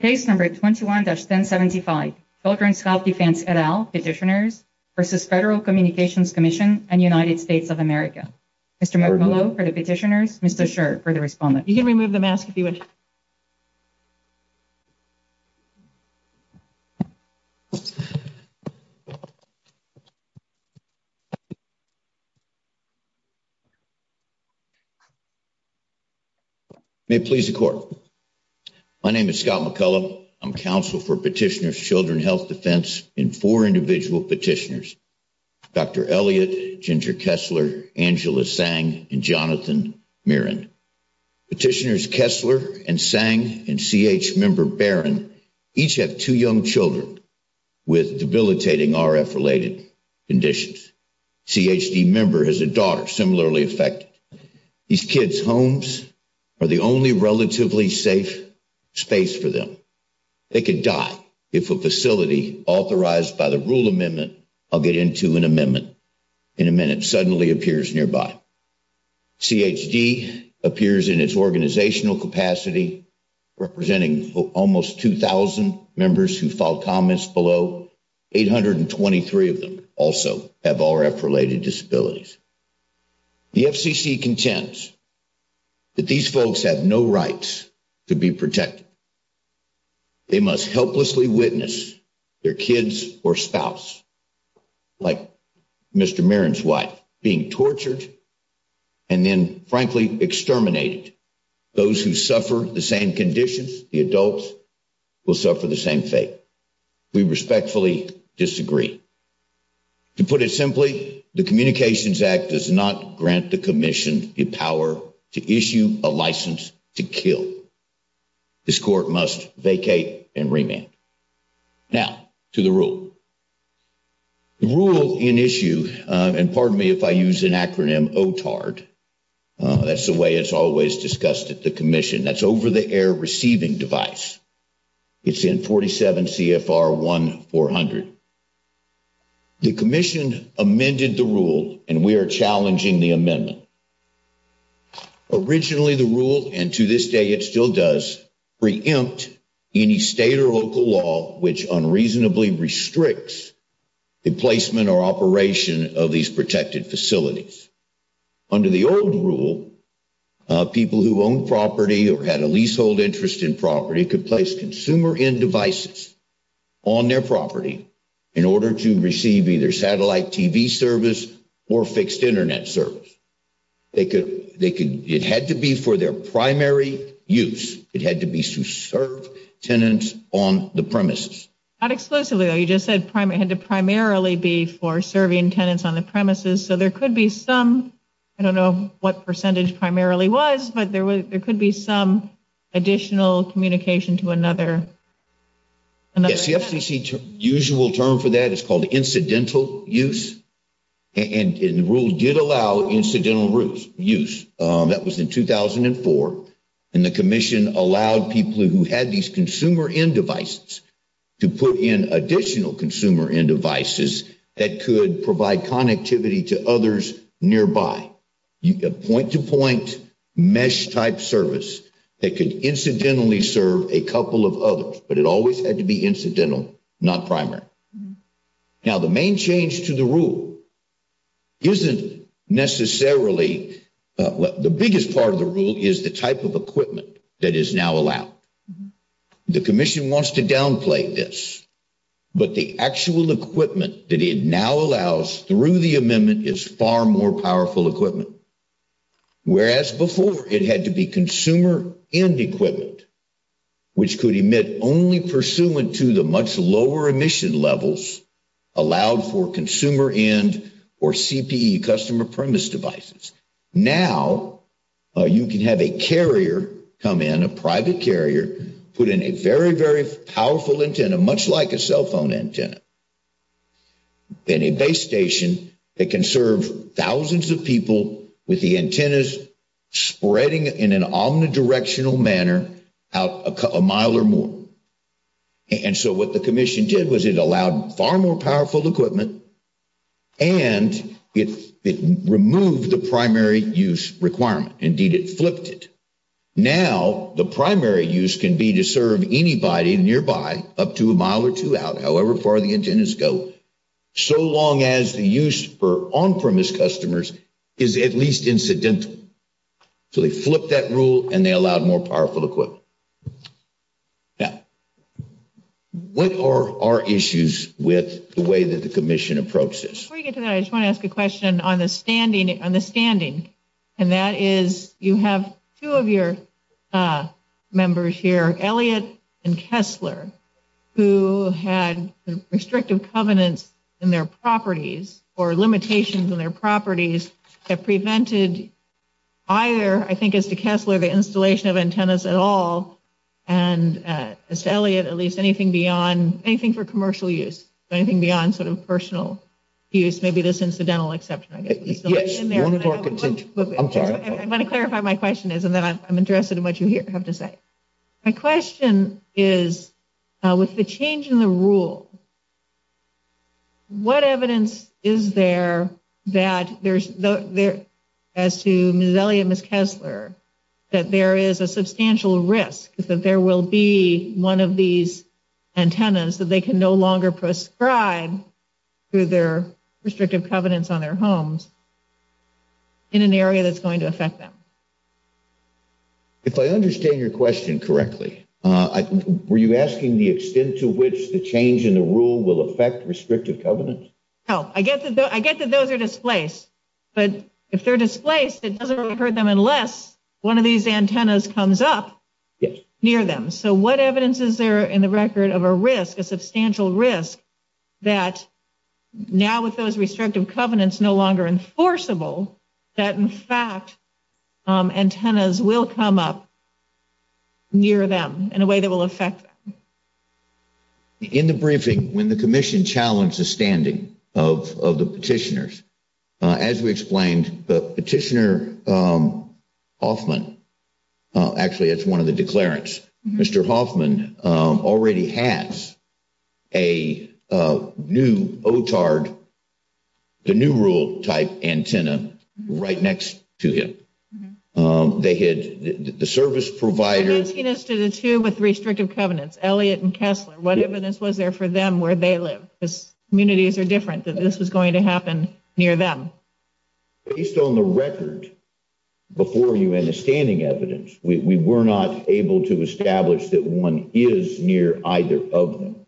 Case number 21-1075, Children's Health Defense, et al. Petitioners v. Federal Communications Commission and United States of America. Mr. McMillan for the petitioners, Mr. Schert for the respondent. You can remove the mask if you would. May it please the court. My name is Scott McCullough. I'm counsel for petitioners Children's Health Defense in four individual petitioners, Dr. Elliott, Ginger Kessler, Angela Sang, and Jonathan Mirren. Petitioners Kessler and Sang and CH member Barron each have two young children with debilitating RF-related conditions. CHD member has a daughter similarly affected. These kids' homes are the only relatively safe space for them. They could die if a facility authorized by the rule amendment, I'll get into an amendment in a minute, suddenly appears nearby. CHD appears in its organizational capacity representing almost 2,000 members who filed below. 823 of them also have RF-related disabilities. The FCC contends that these folks have no rights to be protected. They must helplessly witness their kids or spouse, like Mr. Mirren's wife, being tortured and then frankly exterminated. Those who suffer the same conditions, the adults, will suffer the same fate. We respectfully disagree. To put it simply, the Communications Act does not grant the commission the power to issue a license to kill. This court must vacate and remand. Now, to the rule. The rule in issue, and pardon me if I use an acronym, OTARD, that's the way it's always discussed at the commission. That's over-the-air receiving device. It's in 47 CFR 1400. The commission amended the rule, and we are challenging the amendment. Originally, the rule, and to this day it still does, preempt any state or local law which unreasonably restricts the placement or operation of these protected facilities. Under the old rule, people who own property or had a leasehold interest in property could place consumer-end devices on their property in order to receive either satellite TV service or fixed internet service. It had to be for their primary use. It had to be to serve tenants on the premises. Not exclusively, though. You just said it had to primarily be for serving tenants on the I don't know what percentage primarily was, but there could be some additional communication to another. Yes, the FCC usual term for that is called incidental use, and the rule did allow incidental use. That was in 2004, and the commission allowed people who had these consumer-end devices to put in additional consumer-end devices that could provide connectivity to others nearby. You get point-to-point, mesh-type service that could incidentally serve a couple of others, but it always had to be incidental, not primary. Now, the main change to the rule isn't necessarily, the biggest part of the rule is the type of equipment that is now allowed. The commission wants to downplay this, but the actual equipment that it now allows through the amendment is far more powerful equipment, whereas before it had to be consumer-end equipment, which could emit only pursuant to the much lower emission levels allowed for consumer-end or CPE, customer premise devices. Now, you can have a carrier come in, a private carrier, put in a very, very powerful antenna, much like a cell phone antenna, then a base station that can serve thousands of people with the antennas spreading in an omnidirectional manner out a mile or more. And so what the commission did was it allowed far more powerful equipment, and it removed the primary use requirement. Indeed, it flipped it. Now, the primary use can be to serve anybody nearby up to a mile or two out, however far the antennas go, so long as the use for on-premise customers is at least incidental. So they flipped that rule, and they allowed more powerful equipment. Now, what are our issues with the way that the commission approaches this? Before you get to that, I just want to ask a question on the and that is you have two of your members here, Elliott and Kessler, who had restrictive covenants in their properties or limitations in their properties that prevented either, I think, as to Kessler, the installation of antennas at all, and as to Elliott, at least anything for commercial use, anything beyond sort of personal use, maybe this incidental Yes. I'm sorry. I'm going to clarify my question is, and then I'm interested in what you have to say. My question is, with the change in the rule, what evidence is there that there's, as to Ms. Elliott and Ms. Kessler, that there is a substantial risk that there will be one of these antennas that they can no longer prescribe through their restrictive covenants on their homes in an area that's going to affect them? If I understand your question correctly, were you asking the extent to which the change in the rule will affect restrictive covenants? No. I get that those are displaced, but if they're displaced, it doesn't hurt them unless one of these antennas comes up near them. So what evidence is there in the record of a risk, a substantial risk, that now with those restrictive covenants no longer enforceable, that in fact antennas will come up near them in a way that will affect them? In the briefing, when the commission challenged the standing of the petitioners, as we explained, the petitioner, Hoffman, actually that's one of the declarants, Mr. Hoffman, already has a new OTARD, the new rule type antenna, right next to him. They had the service provider... He listed the two with restrictive covenants, Elliott and Kessler. What evidence was there for them where they live? Because communities are different, that this was going to happen near them. Based on the record before you and the standing evidence, we were not able to establish that one is near either of them.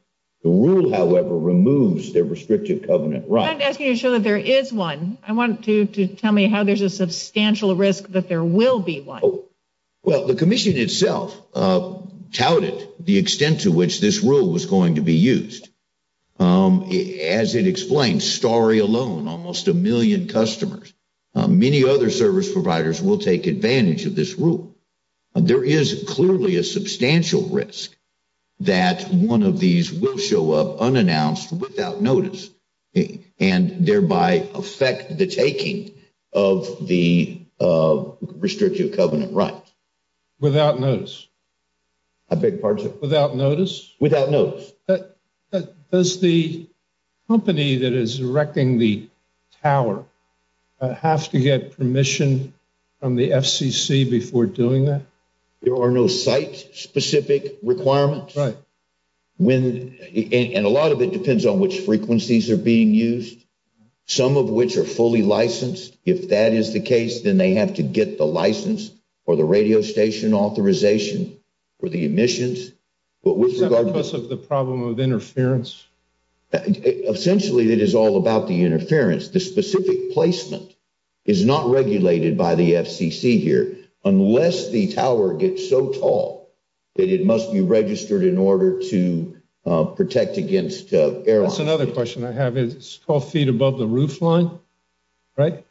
The rule, however, removes their restrictive covenant, right? I'm asking you to show that there is one. I want you to tell me how there's a substantial risk that there will be one. Well, the commission itself touted the extent to which this rule was going to be used. As it explains, Starry alone, almost a million customers, many other service providers will take advantage of this rule. There is clearly a substantial risk that one of these will show up unannounced, without notice, and thereby affect the taking of the restrictive covenant, right? Without notice? I beg your pardon? Without notice? Without notice. But does the company that is erecting the tower have to get permission from the FCC before doing that? There are no site-specific requirements. Right. And a lot of it depends on which frequencies are being used, some of which are fully licensed. If that is the case, then they have to get the interference. Essentially, it is all about the interference. The specific placement is not regulated by the FCC here, unless the tower gets so tall that it must be registered in order to protect against airlines. That's another question I have. It's 12 feet above the roof line, right?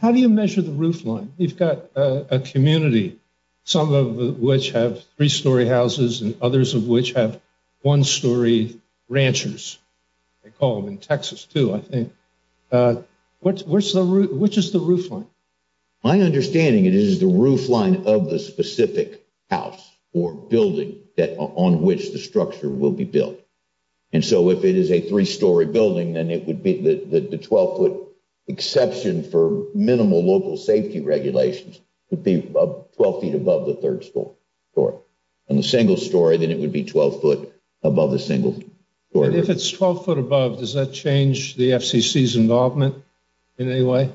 How do you measure the roof line? You've got a community, some of which have three-story houses, and others of which have one-story ranchers. They call them in Texas, too, I think. Which is the roof line? My understanding is it is the roof line of the specific house or building on which the structure will be built. And so if it is a three-story building, then the 12-foot exception for minimal local safety regulations would be 12 feet above the third story. On the single story, then it would be 12 feet above the single story. If it's 12 feet above, does that change the FCC's involvement in any way?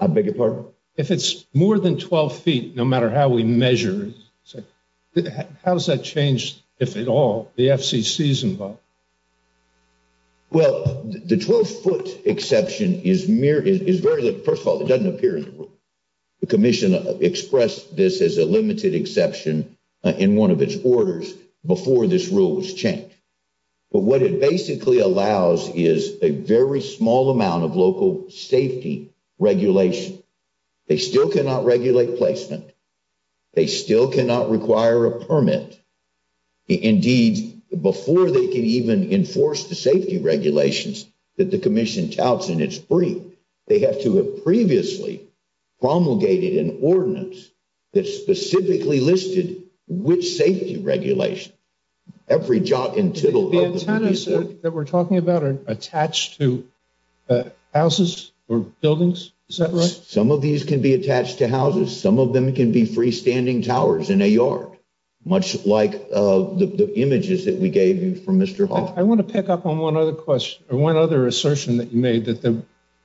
I beg your pardon? If it's more than 12 feet, no matter how we measure it, how does that change, if at all, the FCC's involvement? Well, the 12-foot exception is very, first of all, it doesn't appear in the rule. The limited exception in one of its orders before this rule was changed. But what it basically allows is a very small amount of local safety regulation. They still cannot regulate placement. They still cannot require a permit. Indeed, before they can even enforce the safety regulations that the Commission touts in its brief, they have to have previously promulgated an ordinance that specifically listed which safety regulation. Every jot and tittle of it. The antennas that we're talking about are attached to houses or buildings? Is that right? Some of these can be attached to houses. Some of them can be freestanding towers in a yard, much like the images that we gave you from Mr. Hall. I want to pick up on one other question, or one other assertion that you made, that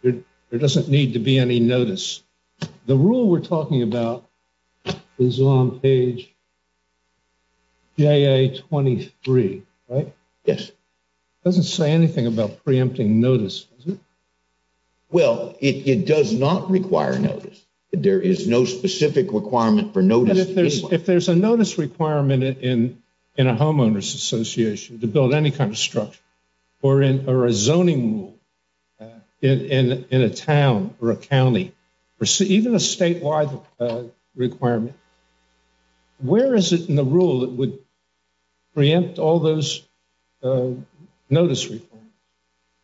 there doesn't need to be any notice. The rule we're talking about is on page GAA-23, right? Yes. It doesn't say anything about preempting notice, does it? Well, it does not require notice. There is no specific requirement for notice. If there's a notice requirement in a homeowners association to build any kind of structure or a zoning rule in a town or a county, or even a statewide requirement, where is it in the rule that would preempt all those notice requirements?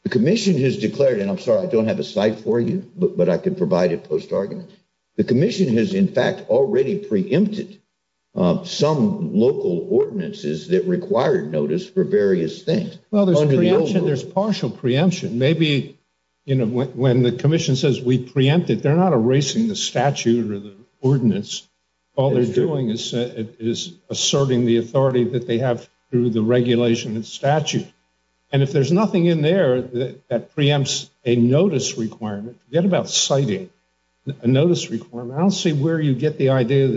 The Commission has declared, and I'm sorry, I don't have a site for you, but I can provide it post-argument. The Commission has, in fact, already preempted some local ordinances that required notice for various things. There's partial preemption. Maybe when the Commission says we preempted, they're not erasing the statute or the ordinance. All they're doing is asserting the authority that they have through the regulation and statute. And if there's nothing in there that preempts a notice requirement, forget about citing a notice requirement. I don't see where you get the idea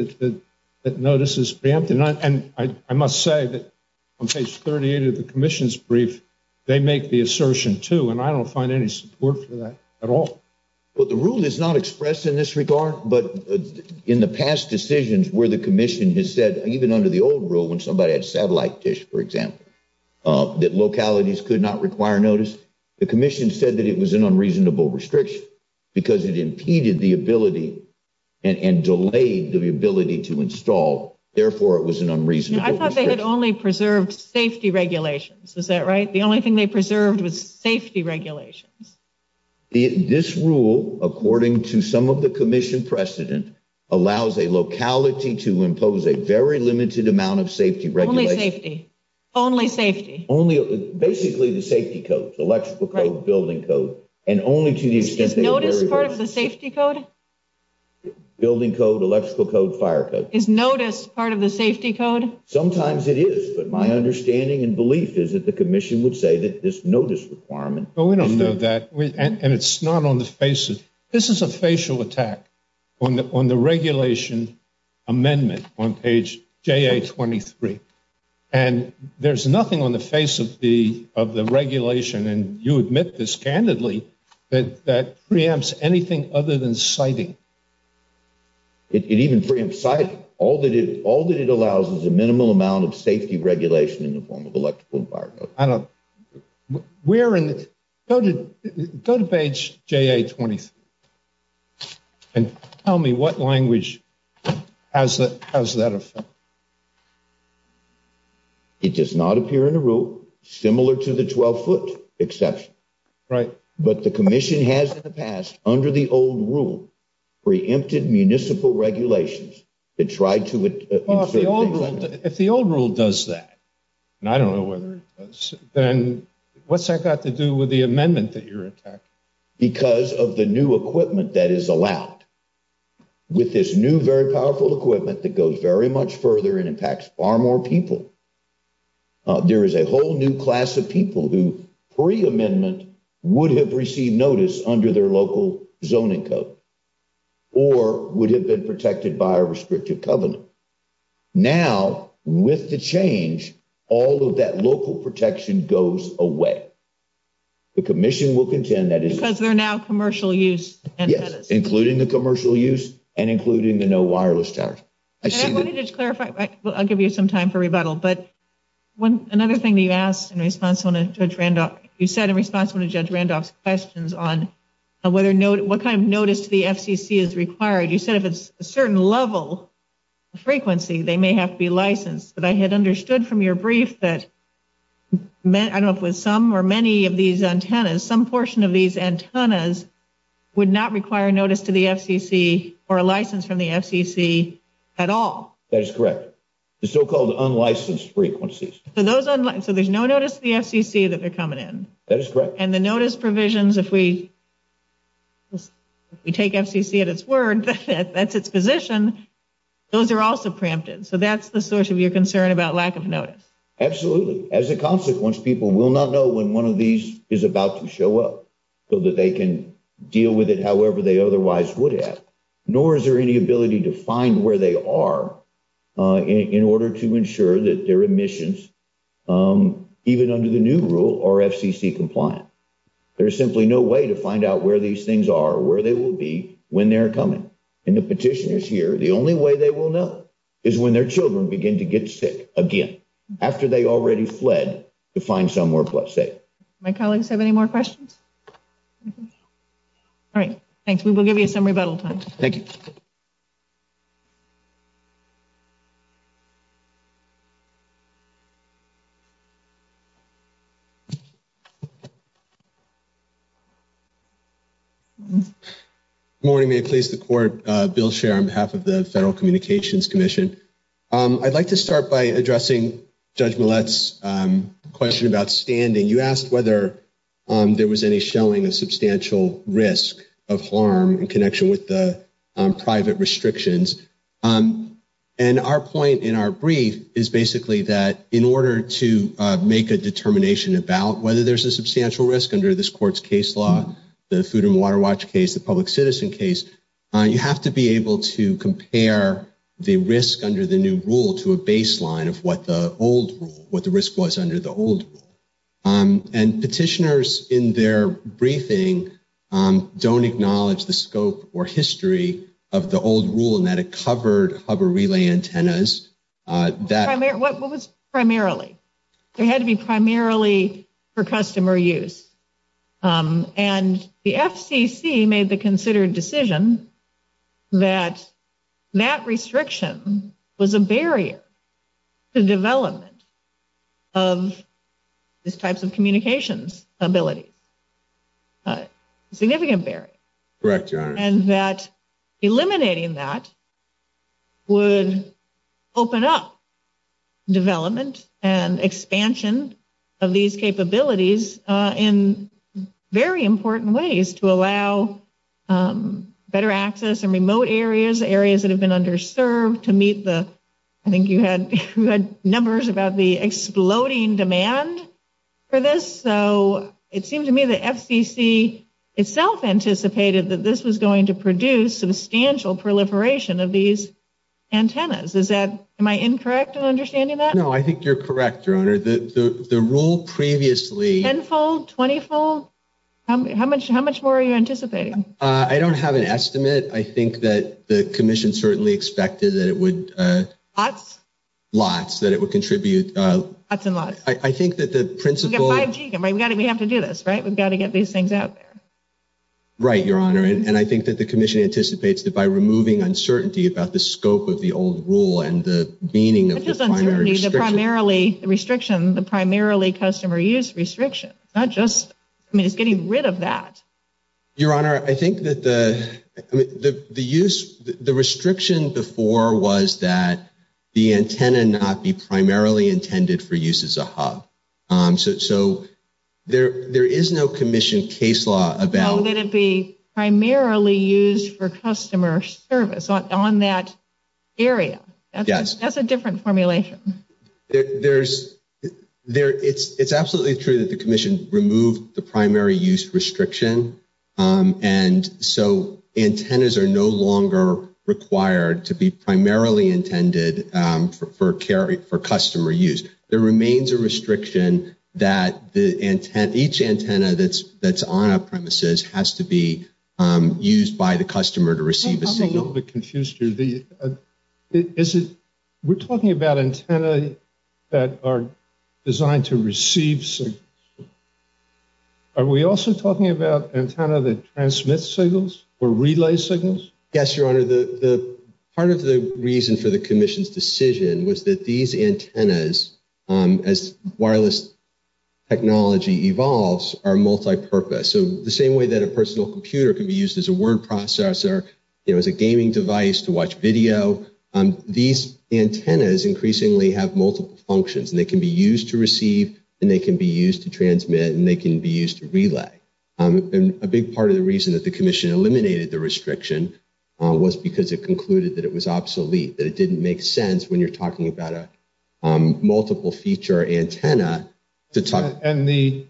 that notice is preempted. And I must say that on page 38 of the Commission's brief, they make the assertion, too, and I don't find any support for that at all. Well, the rule is not expressed in this regard, but in the past decisions where the Commission has said, even under the old rule, when somebody had satellite dish, for example, that localities could not require notice, the Commission said that it was an unreasonable restriction because it impeded the ability and delayed the ability to install. Therefore, I thought they had only preserved safety regulations. Is that right? The only thing they preserved was safety regulations. This rule, according to some of the Commission precedent, allows a locality to impose a very limited amount of safety regulation. Only safety. Only safety. Only basically the safety codes, electrical code, building code. And only to the extent that notice part of the safety code. Building code, electrical code, fire code. Is notice part of the safety code? Sometimes it is, but my understanding and belief is that the Commission would say that this notice requirement. But we don't know that, and it's not on the faces. This is a facial attack on the regulation amendment on page JA23. And there's nothing on the face of the regulation, and you admit this candidly, that preempts anything other than citing. It even preempts citing. All that it allows is a minimal amount of safety regulation in the form of electrical and fire code. I don't... Where in the... Go to page JA23, and tell me what language has that effect? It does not appear in the rule, similar to the 12-foot exception. Right. But the Commission has in the past, under the old rule, preempted municipal regulations that tried to... If the old rule does that, and I don't know whether it does, then what's that got to do with the amendment that you're attacking? Because of the new equipment that is allowed. With this new, very powerful equipment that goes very much further and impacts far more people. There is a whole new class of people who, pre-amendment, would have received notice under their local zoning code. Or would have been protected by a restrictive covenant. Now, with the change, all of that local protection goes away. The Commission will contend that... Because they're now commercial use. Yes, including the commercial use, and including the no wireless towers. I wanted to clarify, I'll give you some time for rebuttal. But another thing that you said in response to Judge Randolph's questions on what kind of notice to the FCC is required, you said if it's a certain level of frequency, they may have to be licensed. But I had understood from your brief that, I don't know if it was some or many of these antennas, some portion of these antennas would not require notice to the FCC, or a license from the FCC, at all. That is correct. The so-called unlicensed frequencies. So there's no notice to the FCC that they're coming in. That is correct. And the notice provisions, if we take FCC at its word, that's its position, those are also pre-empted. So that's the source of your concern about lack of notice. Absolutely. As a consequence, people will not know when one of these is about to show up, so that they can deal with it however they otherwise would have. Nor is there any ability to find where they are in order to ensure that their emissions, even under the new rule, are FCC compliant. There's simply no way to find out where these things are, where they will be when they're coming. And the petitioners here, the only way they will know is when their children begin to get sick again, after they already fled to find somewhere safe. My colleagues have any more questions? All right. Thanks. We'll give you some rebuttal time. Thank you. Good morning. May it please the Court, Bill Sherr on behalf of the Federal Communications Commission. I'd like to start by addressing Judge Millett's question about standing. You asked whether there was any showing of substantial risk of harm in connection with the private restrictions. And our point in our brief is basically that, in order to make a determination about whether there's a substantial risk under this Court's case law, the Food and Water Watch case, the public citizen case, you have to be able to compare the risk under the new rule to a baseline of what the old rule, what the risk was under the old rule. And petitioners, in their briefing, don't acknowledge the scope or history of the old rule and that it covered hub or relay antennas. What was primarily? It had to be primarily for customer use. And the FCC made the considered decision that that restriction was a barrier to development of these types of communications abilities. Significant barrier. Correct, Your Honor. And that eliminating that would open up development and expansion of these capabilities in very important ways to allow better access in remote areas, areas that have been underserved to meet the, I think you had numbers about the exploding demand for this. So it seemed to me the FCC itself anticipated that this was going to produce substantial proliferation of these antennas. Is that, am I incorrect in understanding that? No, I think you're correct, Your Honor. The rule previously. Tenfold, twentyfold? How much more are you anticipating? I don't have an estimate. I think that the Commission certainly expected that it would. Lots? Lots, that it would contribute. Lots and lots. I think that the principle. We've got 5G, we have to do this, right? We've got to get these things out there. Right, Your Honor. And I think that the Commission anticipates that by removing uncertainty about the scope of the old rule and the meaning of the primary restriction. Which is uncertainty, the primarily restriction, the primarily customer use restriction, not just, I mean, it's getting rid of that. Your Honor, I think that the, I mean, the use, the restriction before was that the antenna not be primarily intended for use as a hub. So there is no Commission case law about. That it be primarily used for customer service on that area. Yes. That's a different formulation. There's, it's absolutely true that the Commission removed the primary use restriction. And so antennas are no longer required to be primarily intended for customer use. There remains a restriction that each antenna that's on our premises has to be used by the customer to receive a signal. I'm a little bit confused here. We're talking about antenna that are designed to receive signals. Are we also talking about antenna that transmits signals or relay signals? Yes, Your Honor. The part of the reason for the Commission's decision was that these antennas, as wireless technology evolves, are multipurpose. So the same way that a personal computer can be used as a word processor, you know, as a gaming device to watch video, these antennas increasingly have multiple functions and they can be used to receive and they can be used to transmit and they can be used to relay. And a big part of the reason that the Commission eliminated the restriction was because it concluded that it was obsolete, that it didn't make sense when you're talking about a multiple feature antenna. And the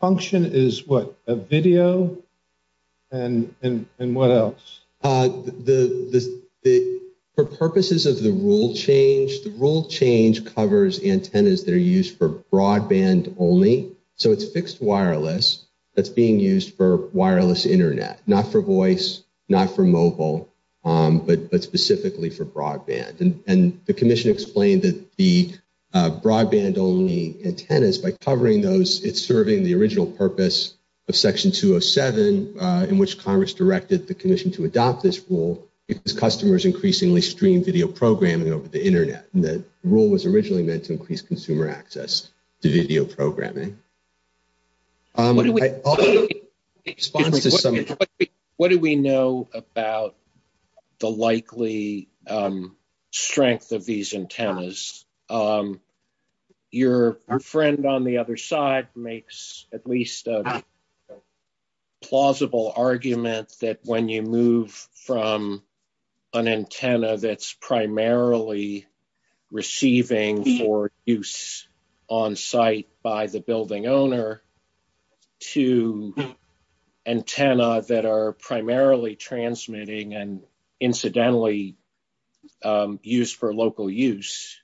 function is what? A video and what else? For purposes of the rule change, the rule change covers antennas that are used for broadband only. So it's fixed wireless that's being used for wireless internet, not for voice, not for mobile, but specifically for broadband. And the Commission explained that the broadband only antennas, by covering those, it's serving the original purpose of Section 207 in which Congress directed the Commission to adopt this rule because customers increasingly stream video programming over the internet. And the rule was originally meant to increase consumer access to video programming. What do we know about the likely strength of these antennas? Your friend on the other side makes at least a plausible argument that when you move from an antenna that's primarily receiving for use on site by the building owner to antenna that are primarily transmitting and incidentally used for local use,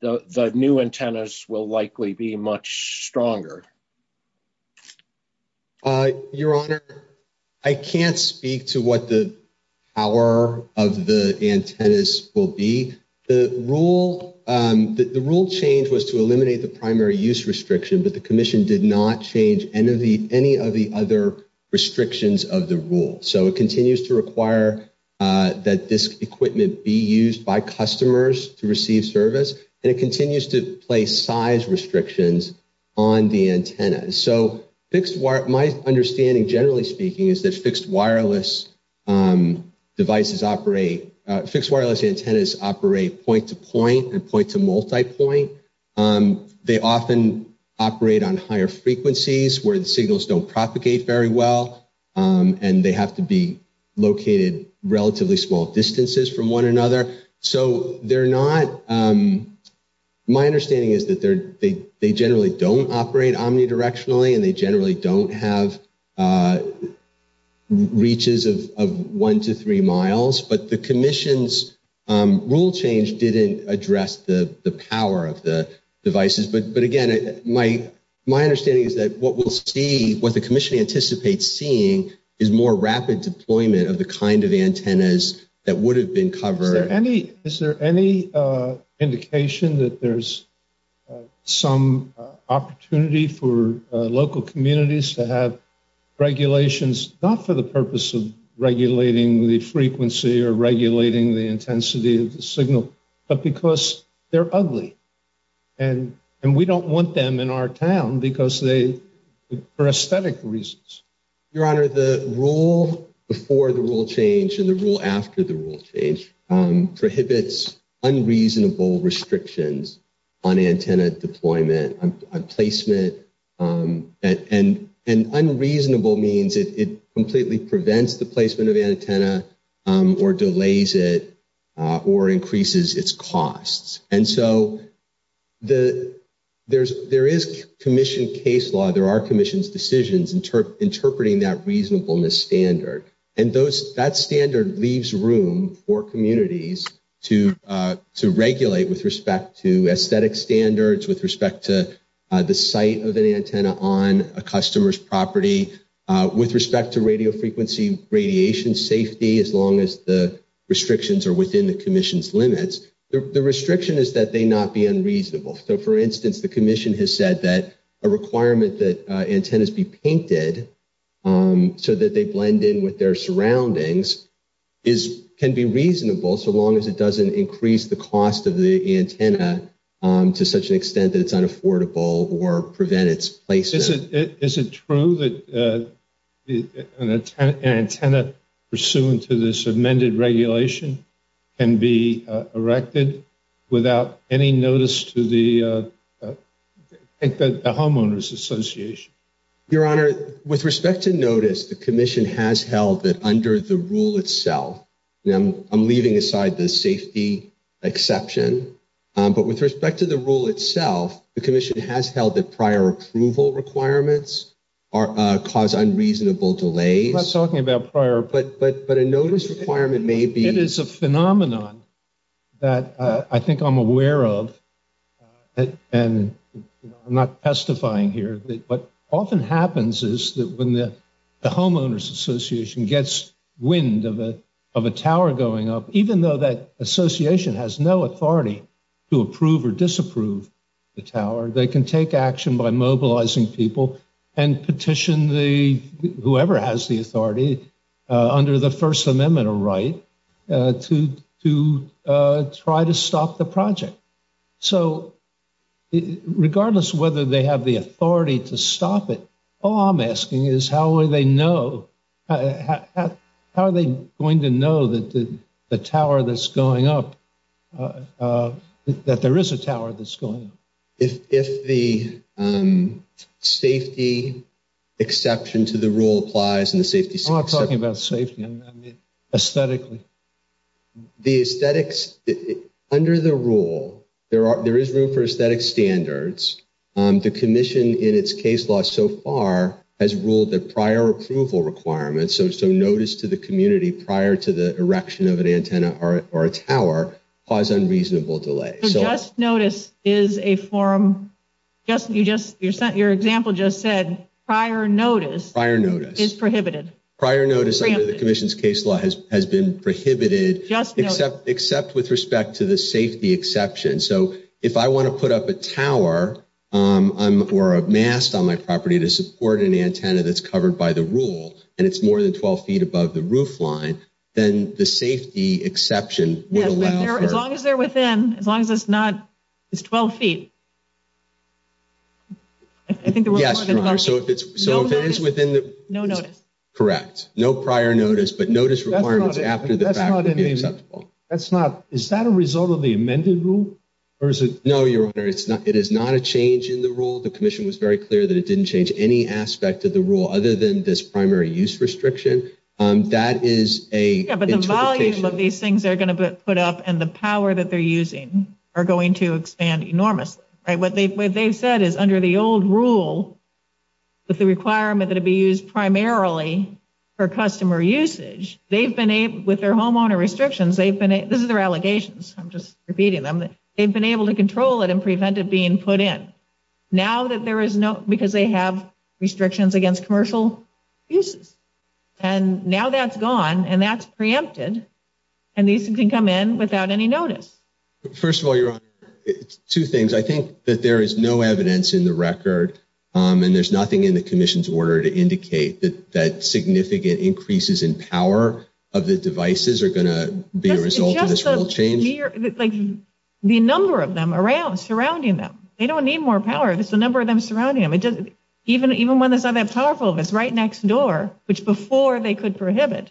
the new antennas will likely be much stronger. Your Honor, I can't speak to what the power of the antennas will be. The rule change was to eliminate the primary use restriction, but the Commission did not change any of the other restrictions of the rule. So it continues to require that this equipment be used by customers to receive service, and it continues to place size restrictions on the antennas. So my understanding, generally speaking, is that fixed wireless antennas operate point-to-point and point-to-multipoint. They often operate on higher frequencies where the signals don't propagate very well, and they have to be located relatively small distances from one another. So my understanding is that they generally don't operate omnidirectionally, and they generally don't have reaches of one to three miles, but the Commission's rule change didn't address the power of the devices. But again, my understanding is that what we'll see, what the Commission anticipates seeing is more rapid deployment of the kind of antennas that would have been covered. Is there any indication that there's some opportunity for local communities to have regulations, not for the purpose of regulating the frequency or regulating the intensity of the signal, but because they're ugly? And we don't want them in our town because they, for aesthetic reasons. Your Honor, the rule before the rule change and the rule after the rule change prohibits unreasonable restrictions on antenna deployment, on placement. And unreasonable means it completely prevents the placement of antenna or delays it or increases its costs. And so there is Commission case law, there are Commission's decisions interpreting that reasonableness standard. And that standard leaves room for communities to regulate with respect to aesthetic standards, with respect to the site of an antenna on a customer's property, with respect to radio frequency radiation safety, as long as the restrictions are within the Commission's limits. The restriction is that they not be unreasonable. So for instance, the Commission has said that a requirement that antennas be painted so that they blend in with their surroundings can be reasonable so long as it doesn't increase the cost of the antenna to such an extent that it's unaffordable or prevent its placement. Is it true that an antenna pursuant to this amended regulation can be erected without any notice to the Homeowners Association? Your Honor, with respect to notice, the Commission has held that under the rule itself, I'm leaving aside the safety exception, but with respect to the rule itself, the Commission has held that prior approval requirements cause unreasonable delays. I'm not talking about prior... But a notice requirement may be... It is a phenomenon that I think I'm aware of and I'm not testifying here. What often happens is that when the Homeowners Association gets wind of a tower going up, even though that association has no authority to approve or disapprove the tower, they can take action by mobilizing people and petition whoever has the authority under the First Amendment or right to try to stop the project. So regardless whether they have the authority to stop it, all I'm asking is how are they going to know the tower that's going up, that there is a tower that's going up? If the safety exception to the rule applies... I'm not talking about safety. Aesthetically. The aesthetics... Under the rule, there is room for aesthetic standards. The Commission in its case law so far has ruled that prior approval requirements, so notice to the community prior to the erection of an antenna or a tower, cause unreasonable delay. So just notice is a form... Your example just said prior notice is prohibited. Prior notice under the Commission's case law has been prohibited, except with respect to the safety exception. So if I want to put up a tower or a mast on my property to support an antenna that's covered by the rule and it's more than 12 feet above the roof line, then the safety exception would allow for... As long as they're within, as long as it's not... It's 12 feet. I think there was more than 12 feet. So if it is within the... No notice. Correct. No prior notice, but notice requirements after the fact would be acceptable. That's not... Is that a result of the amended rule or is it... No, Your Honor. It is not a change in the rule. The Commission was very clear that it didn't change any aspect of the rule other than this primary use restriction. That is a interpretation. Yeah, but the volume of these things they're going to put up and the power that they're using are going to expand enormously, right? What they've said is under the old rule with the requirement that it be used primarily for customer usage, they've been able... With their homeowner restrictions, they've been... This is their allegations. I'm just repeating them. They've been able to control it and prevent it being put in. Now that there is no... And now that's gone and that's preempted and these can come in without any notice. First of all, Your Honor, two things. I think that there is no evidence in the record and there's nothing in the Commission's order to indicate that significant increases in power of the devices are going to be a result of this rule change. The number of them surrounding them, they don't need more power. It's the number of them surrounding them. Even one that's not that powerful that's right next door, which before they could prohibit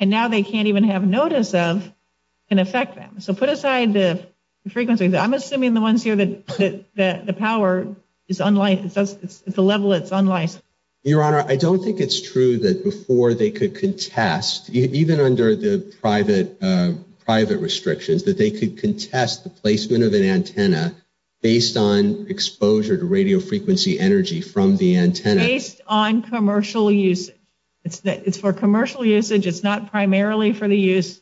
and now they can't even have notice of can affect them. So put aside the frequency. I'm assuming the ones here that the power is the level it's unlicensed. Your Honor, I don't think it's true that before they could contest, even under the private restrictions, that they could contest the placement of an antenna based on exposure to radio frequency energy from the antenna. Based on commercial usage. It's for commercial usage. It's not primarily for the use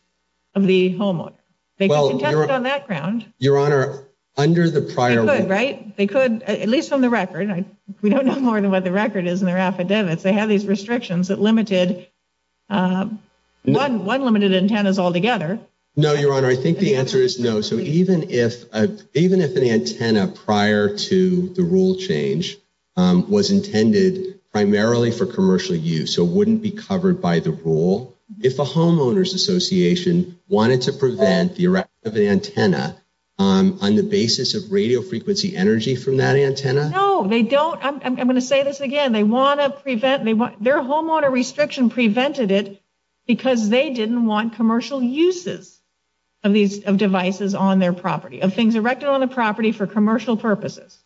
of the homeowner. They can contest on that ground. Your Honor, under the prior rule. They could, right? They could, at least on the record. We don't know more than what the record is in their affidavits. They have these restrictions that limited one limited antennas altogether. No, Your Honor. I think the answer is no. So even if an antenna prior to the rule change was intended primarily for commercial use. So it wouldn't be covered by the rule. If a homeowner's association wanted to prevent the arrest of an antenna on the basis of radio frequency energy from that antenna. No, they don't. I'm going to say this again. They want to prevent. Their homeowner restriction prevented it because they didn't want commercial uses of these devices on their property. Of things erected on the property for commercial purposes.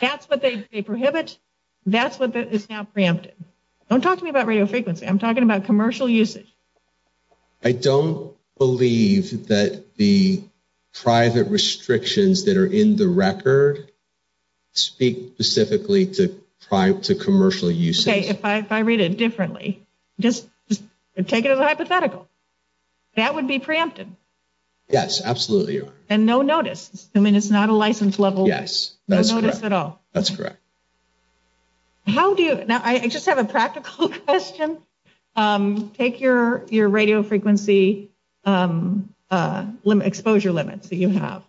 That's what they prohibit. That's what is now preempted. Don't talk to me about radio frequency. I'm talking about commercial usage. I don't believe that the private restrictions that are in the record speak specifically to commercial usage. If I read it differently, just take it as a hypothetical. That would be preempted. Yes, absolutely, Your Honor. And no notice. I mean, it's not a license level. Yes, that's correct. That's correct. How do you? Now I just have a practical question. Take your radio frequency exposure limits that you have.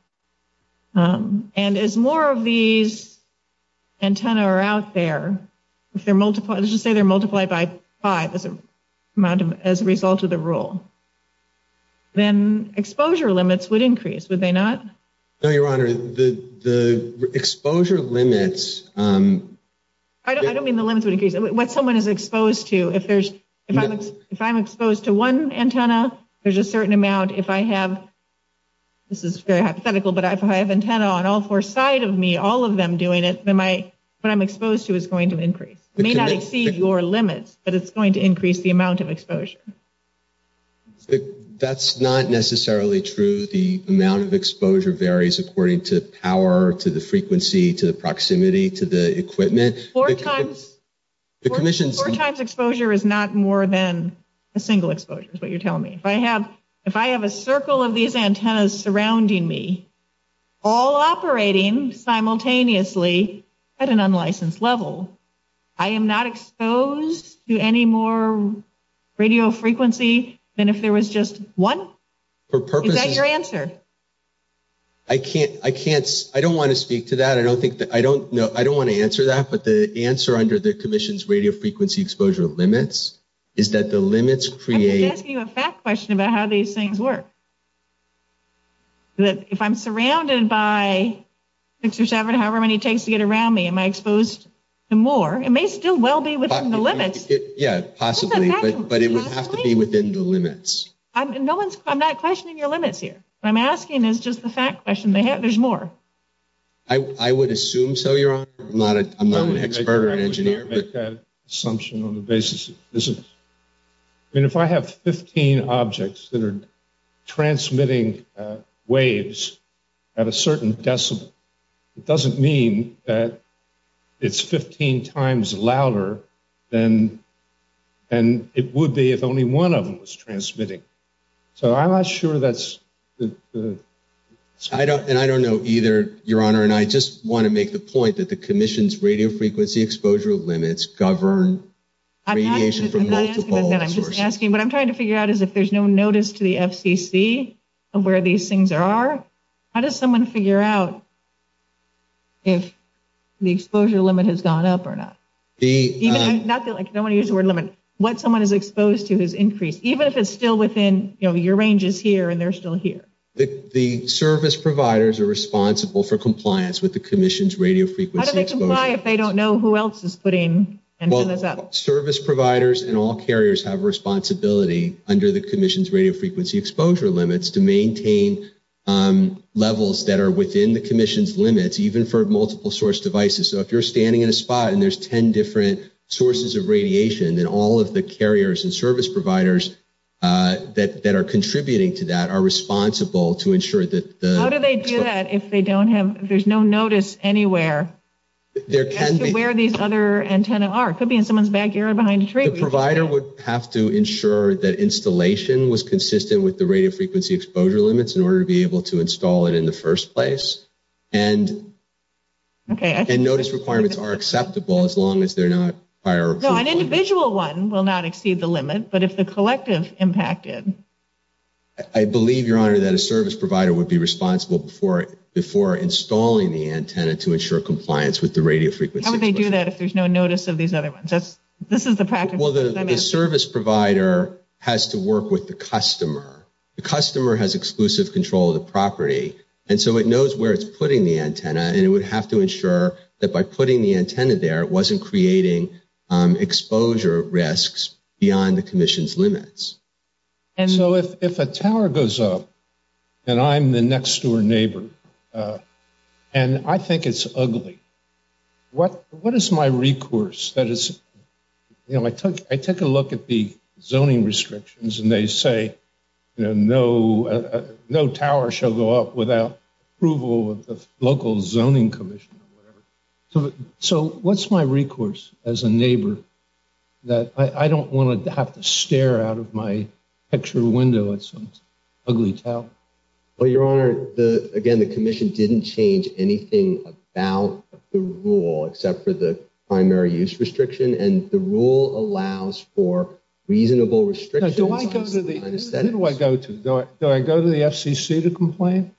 And as more of these antenna are out there, if they're multiplied, let's just say they're multiplied by five as a result of the rule. Then exposure limits would increase. No, Your Honor, the exposure limits. I don't mean the limits would increase what someone is exposed to. If I'm exposed to one antenna, there's a certain amount if I have. This is very hypothetical, but if I have antenna on all four side of me, all of them doing it, what I'm exposed to is going to increase. It may not exceed your limits, but it's going to increase the amount of exposure. That's not necessarily true. The amount of exposure varies according to power, to the frequency, to the proximity, to the equipment. The commission's four times exposure is not more than a single exposure is what you're telling me. If I have if I have a circle of these antennas surrounding me, all operating simultaneously at an unlicensed level, I am not exposed to any more radio frequency than if there was just one. For purposes... Is that your answer? I can't. I can't. I don't want to speak to that. I don't think that I don't know. I don't want to answer that, but the answer under the commission's radio frequency exposure limits is that the limits create... I'm asking you a fact question about how these things work. If I'm surrounded by six or seven, however many it takes to get around me, am I exposed to more? It may still well be within the limits. Yeah, possibly. But it would have to be within the limits. No one's... I'm not questioning your limits here. What I'm asking is just the fact question. They have... There's more. I would assume so, Your Honor. I'm not an expert or an engineer. I can't make that assumption on the basis of physics. I mean, if I have 15 objects that are transmitting waves at a certain decibel, it doesn't mean that it's 15 times louder than it would be if only one of them was transmitting. So I'm not sure that's... And I don't know either, Your Honor. And I just want to make the point that the commission's radio frequency exposure limits govern radiation from multiple sources. I'm just asking. What I'm trying to figure out is if there's no notice to the FCC of where these things are, how does someone figure out if the exposure limit has gone up or not? I don't want to use the word limit. What someone is exposed to has increased, even if it's still within, you know, your range is here and they're still here. The service providers are responsible for compliance with the commission's radio frequency exposure. How do they comply if they don't know who else is putting this up? Service providers and all carriers have a responsibility under the commission's radio frequency exposure limits to maintain levels that are within the commission's limits, even for multiple source devices. So if you're standing in a spot and there's 10 different sources of radiation, all of the carriers and service providers that are contributing to that are responsible to ensure that... How do they do that if they don't have, if there's no notice anywhere as to where these other antennas are? It could be in someone's backyard behind a tree. The provider would have to ensure that installation was consistent with the radio frequency exposure limits in order to be able to install it in the first place. And notice requirements are acceptable as long as they're not higher. An individual one will not exceed the limit, but if the collective impacted... I believe, Your Honor, that a service provider would be responsible before installing the antenna to ensure compliance with the radio frequency exposure. How would they do that if there's no notice of these other ones? That's, this is the practice. Well, the service provider has to work with the customer. The customer has exclusive control of the property. And so it knows where it's putting the antenna and it would have to ensure that by putting the antenna there, it wasn't creating exposure risks beyond the commission's limits. So if a tower goes up and I'm the next door neighbor and I think it's ugly, what is my recourse? That is, you know, I took a look at the zoning restrictions and they say, you know, no tower shall go up without approval of the local zoning commission. So, so what's my recourse as a neighbor that I don't want to have to stare out of my picture window at some ugly tower? Well, Your Honor, again, the commission didn't change anything about the rule except for the primary use restriction. And the rule allows for reasonable restrictions. Do I go to the FCC to complain?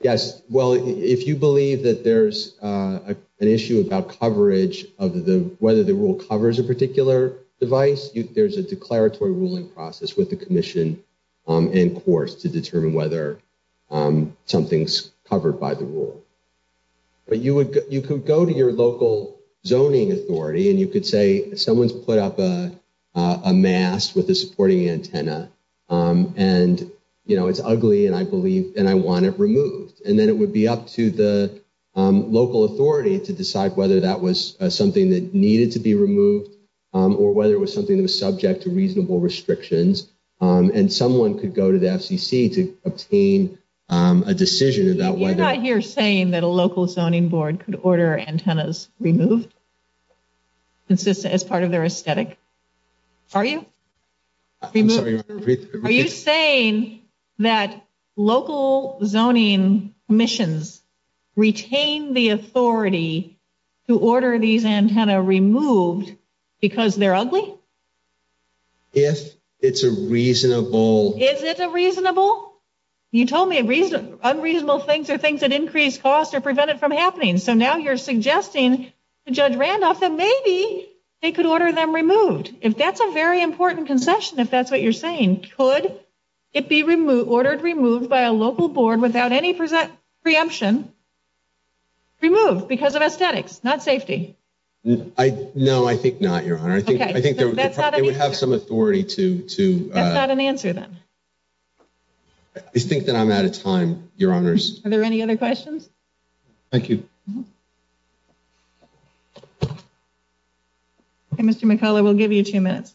Yes. Well, if you believe that there's an issue about coverage of the, whether the rule covers a particular device, there's a declaratory ruling process with the commission and courts to determine whether something's covered by the rule. But you would, you could go to your local zoning authority and you could say someone's put up a mask with a supporting antenna and, you know, it's ugly and I believe, and I want it removed. And then it would be up to the local authority to decide whether that was something that needed to be removed or whether it was something that was subject to reasonable restrictions. And someone could go to the FCC to obtain a decision about whether... You're not here saying that a local zoning board could order antennas removed as part of their aesthetic, are you? Are you saying that local zoning commissions retain the authority to order these antenna removed because they're ugly? If it's a reasonable... Is it a reasonable? You told me unreasonable things are things that increase costs or prevent it from happening. So now you're suggesting to Judge Randolph that maybe they could order them removed. If that's a very important concession, if that's what you're saying, could it be removed, ordered removed by a local board without any preemption, removed because of aesthetics, not safety? No, I think not, Your Honor. I think they would have some authority to... That's not an answer then. I think that I'm out of time, Your Honors. Are there any other questions? Thank you. Okay, Mr. McCullough, we'll give you two minutes.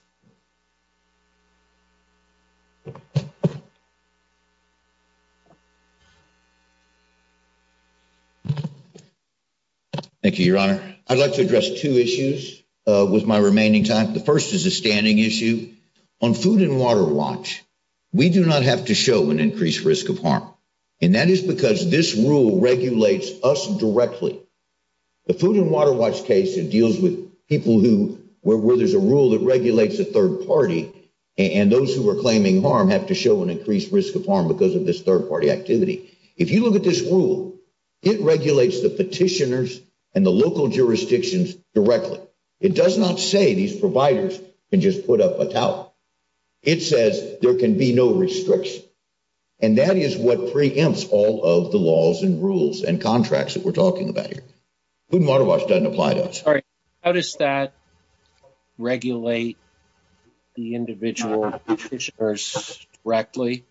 Thank you, Your Honor. I'd like to address two issues with my remaining time. The first is a standing issue on Food and Water Watch. We do not have to show an increased risk of harm. And that is because this rule regulates us directly. The Food and Water Watch case it deals with people who... Where there's a rule that regulates a third party and those who are claiming harm have to show an increased risk of harm because of this third party activity. If you look at this rule, it regulates the petitioners and the local jurisdictions directly. It does not say these providers can just put up a towel. It says there can be no restriction. And that is what preempts all of the laws and rules and contracts that we're talking about here. Food and Water Watch doesn't apply to us. Sorry, how does that regulate the individual petitioners directly?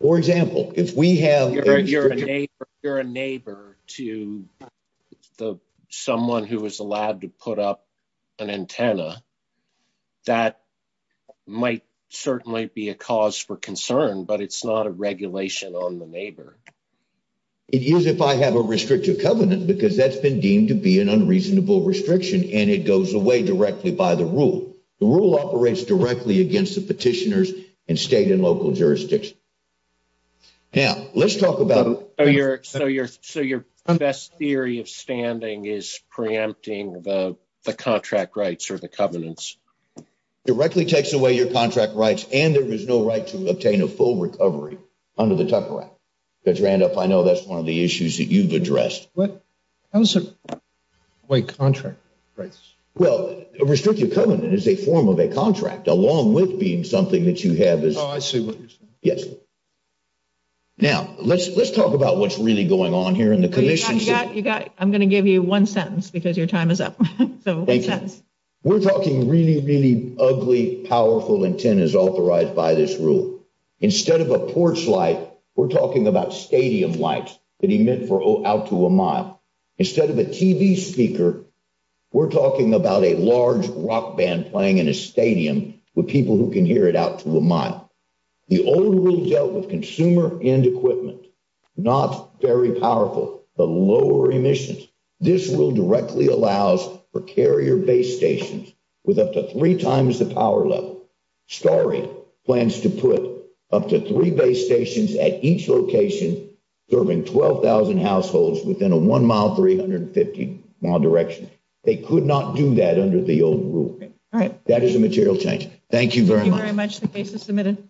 For example, if we have... You're a neighbor to someone who was allowed to put up an antenna. That might certainly be a cause for concern, but it's not a regulation on the neighbor. It is if I have a restrictive covenant because that's been deemed to be an unreasonable restriction and it goes away directly by the rule. The rule operates directly against the petitioners and state and local jurisdictions. Now, let's talk about... So your best theory of standing is preempting the contract rights or the covenants? Directly takes away your contract rights and there is no right to obtain a full recovery under the Tucker Act. Because Randolph, I know that's one of the issues that you've addressed. How does it take away contract rights? Well, a restrictive covenant is a form of a contract along with being something that you have as... Oh, I see what you're saying. Yes. Now, let's talk about what's really going on here in the commission... I'm gonna give you one sentence because your time is up. So one sentence. We're talking really, really ugly, powerful intent is authorized by this rule. Instead of a porch light, we're talking about stadium lights that emit out to a mile. Instead of a TV speaker, we're talking about a large rock band playing in a stadium with people who can hear it out to a mile. The old rule dealt with consumer end equipment, not very powerful, but lower emissions. This rule directly allows for carrier base stations with up to three times the power level. Starry plans to put up to three base stations at each location, serving 12,000 households within a one mile, 350 mile direction. They could not do that under the old rule. All right. That is a material change. Thank you very much. The case is submitted.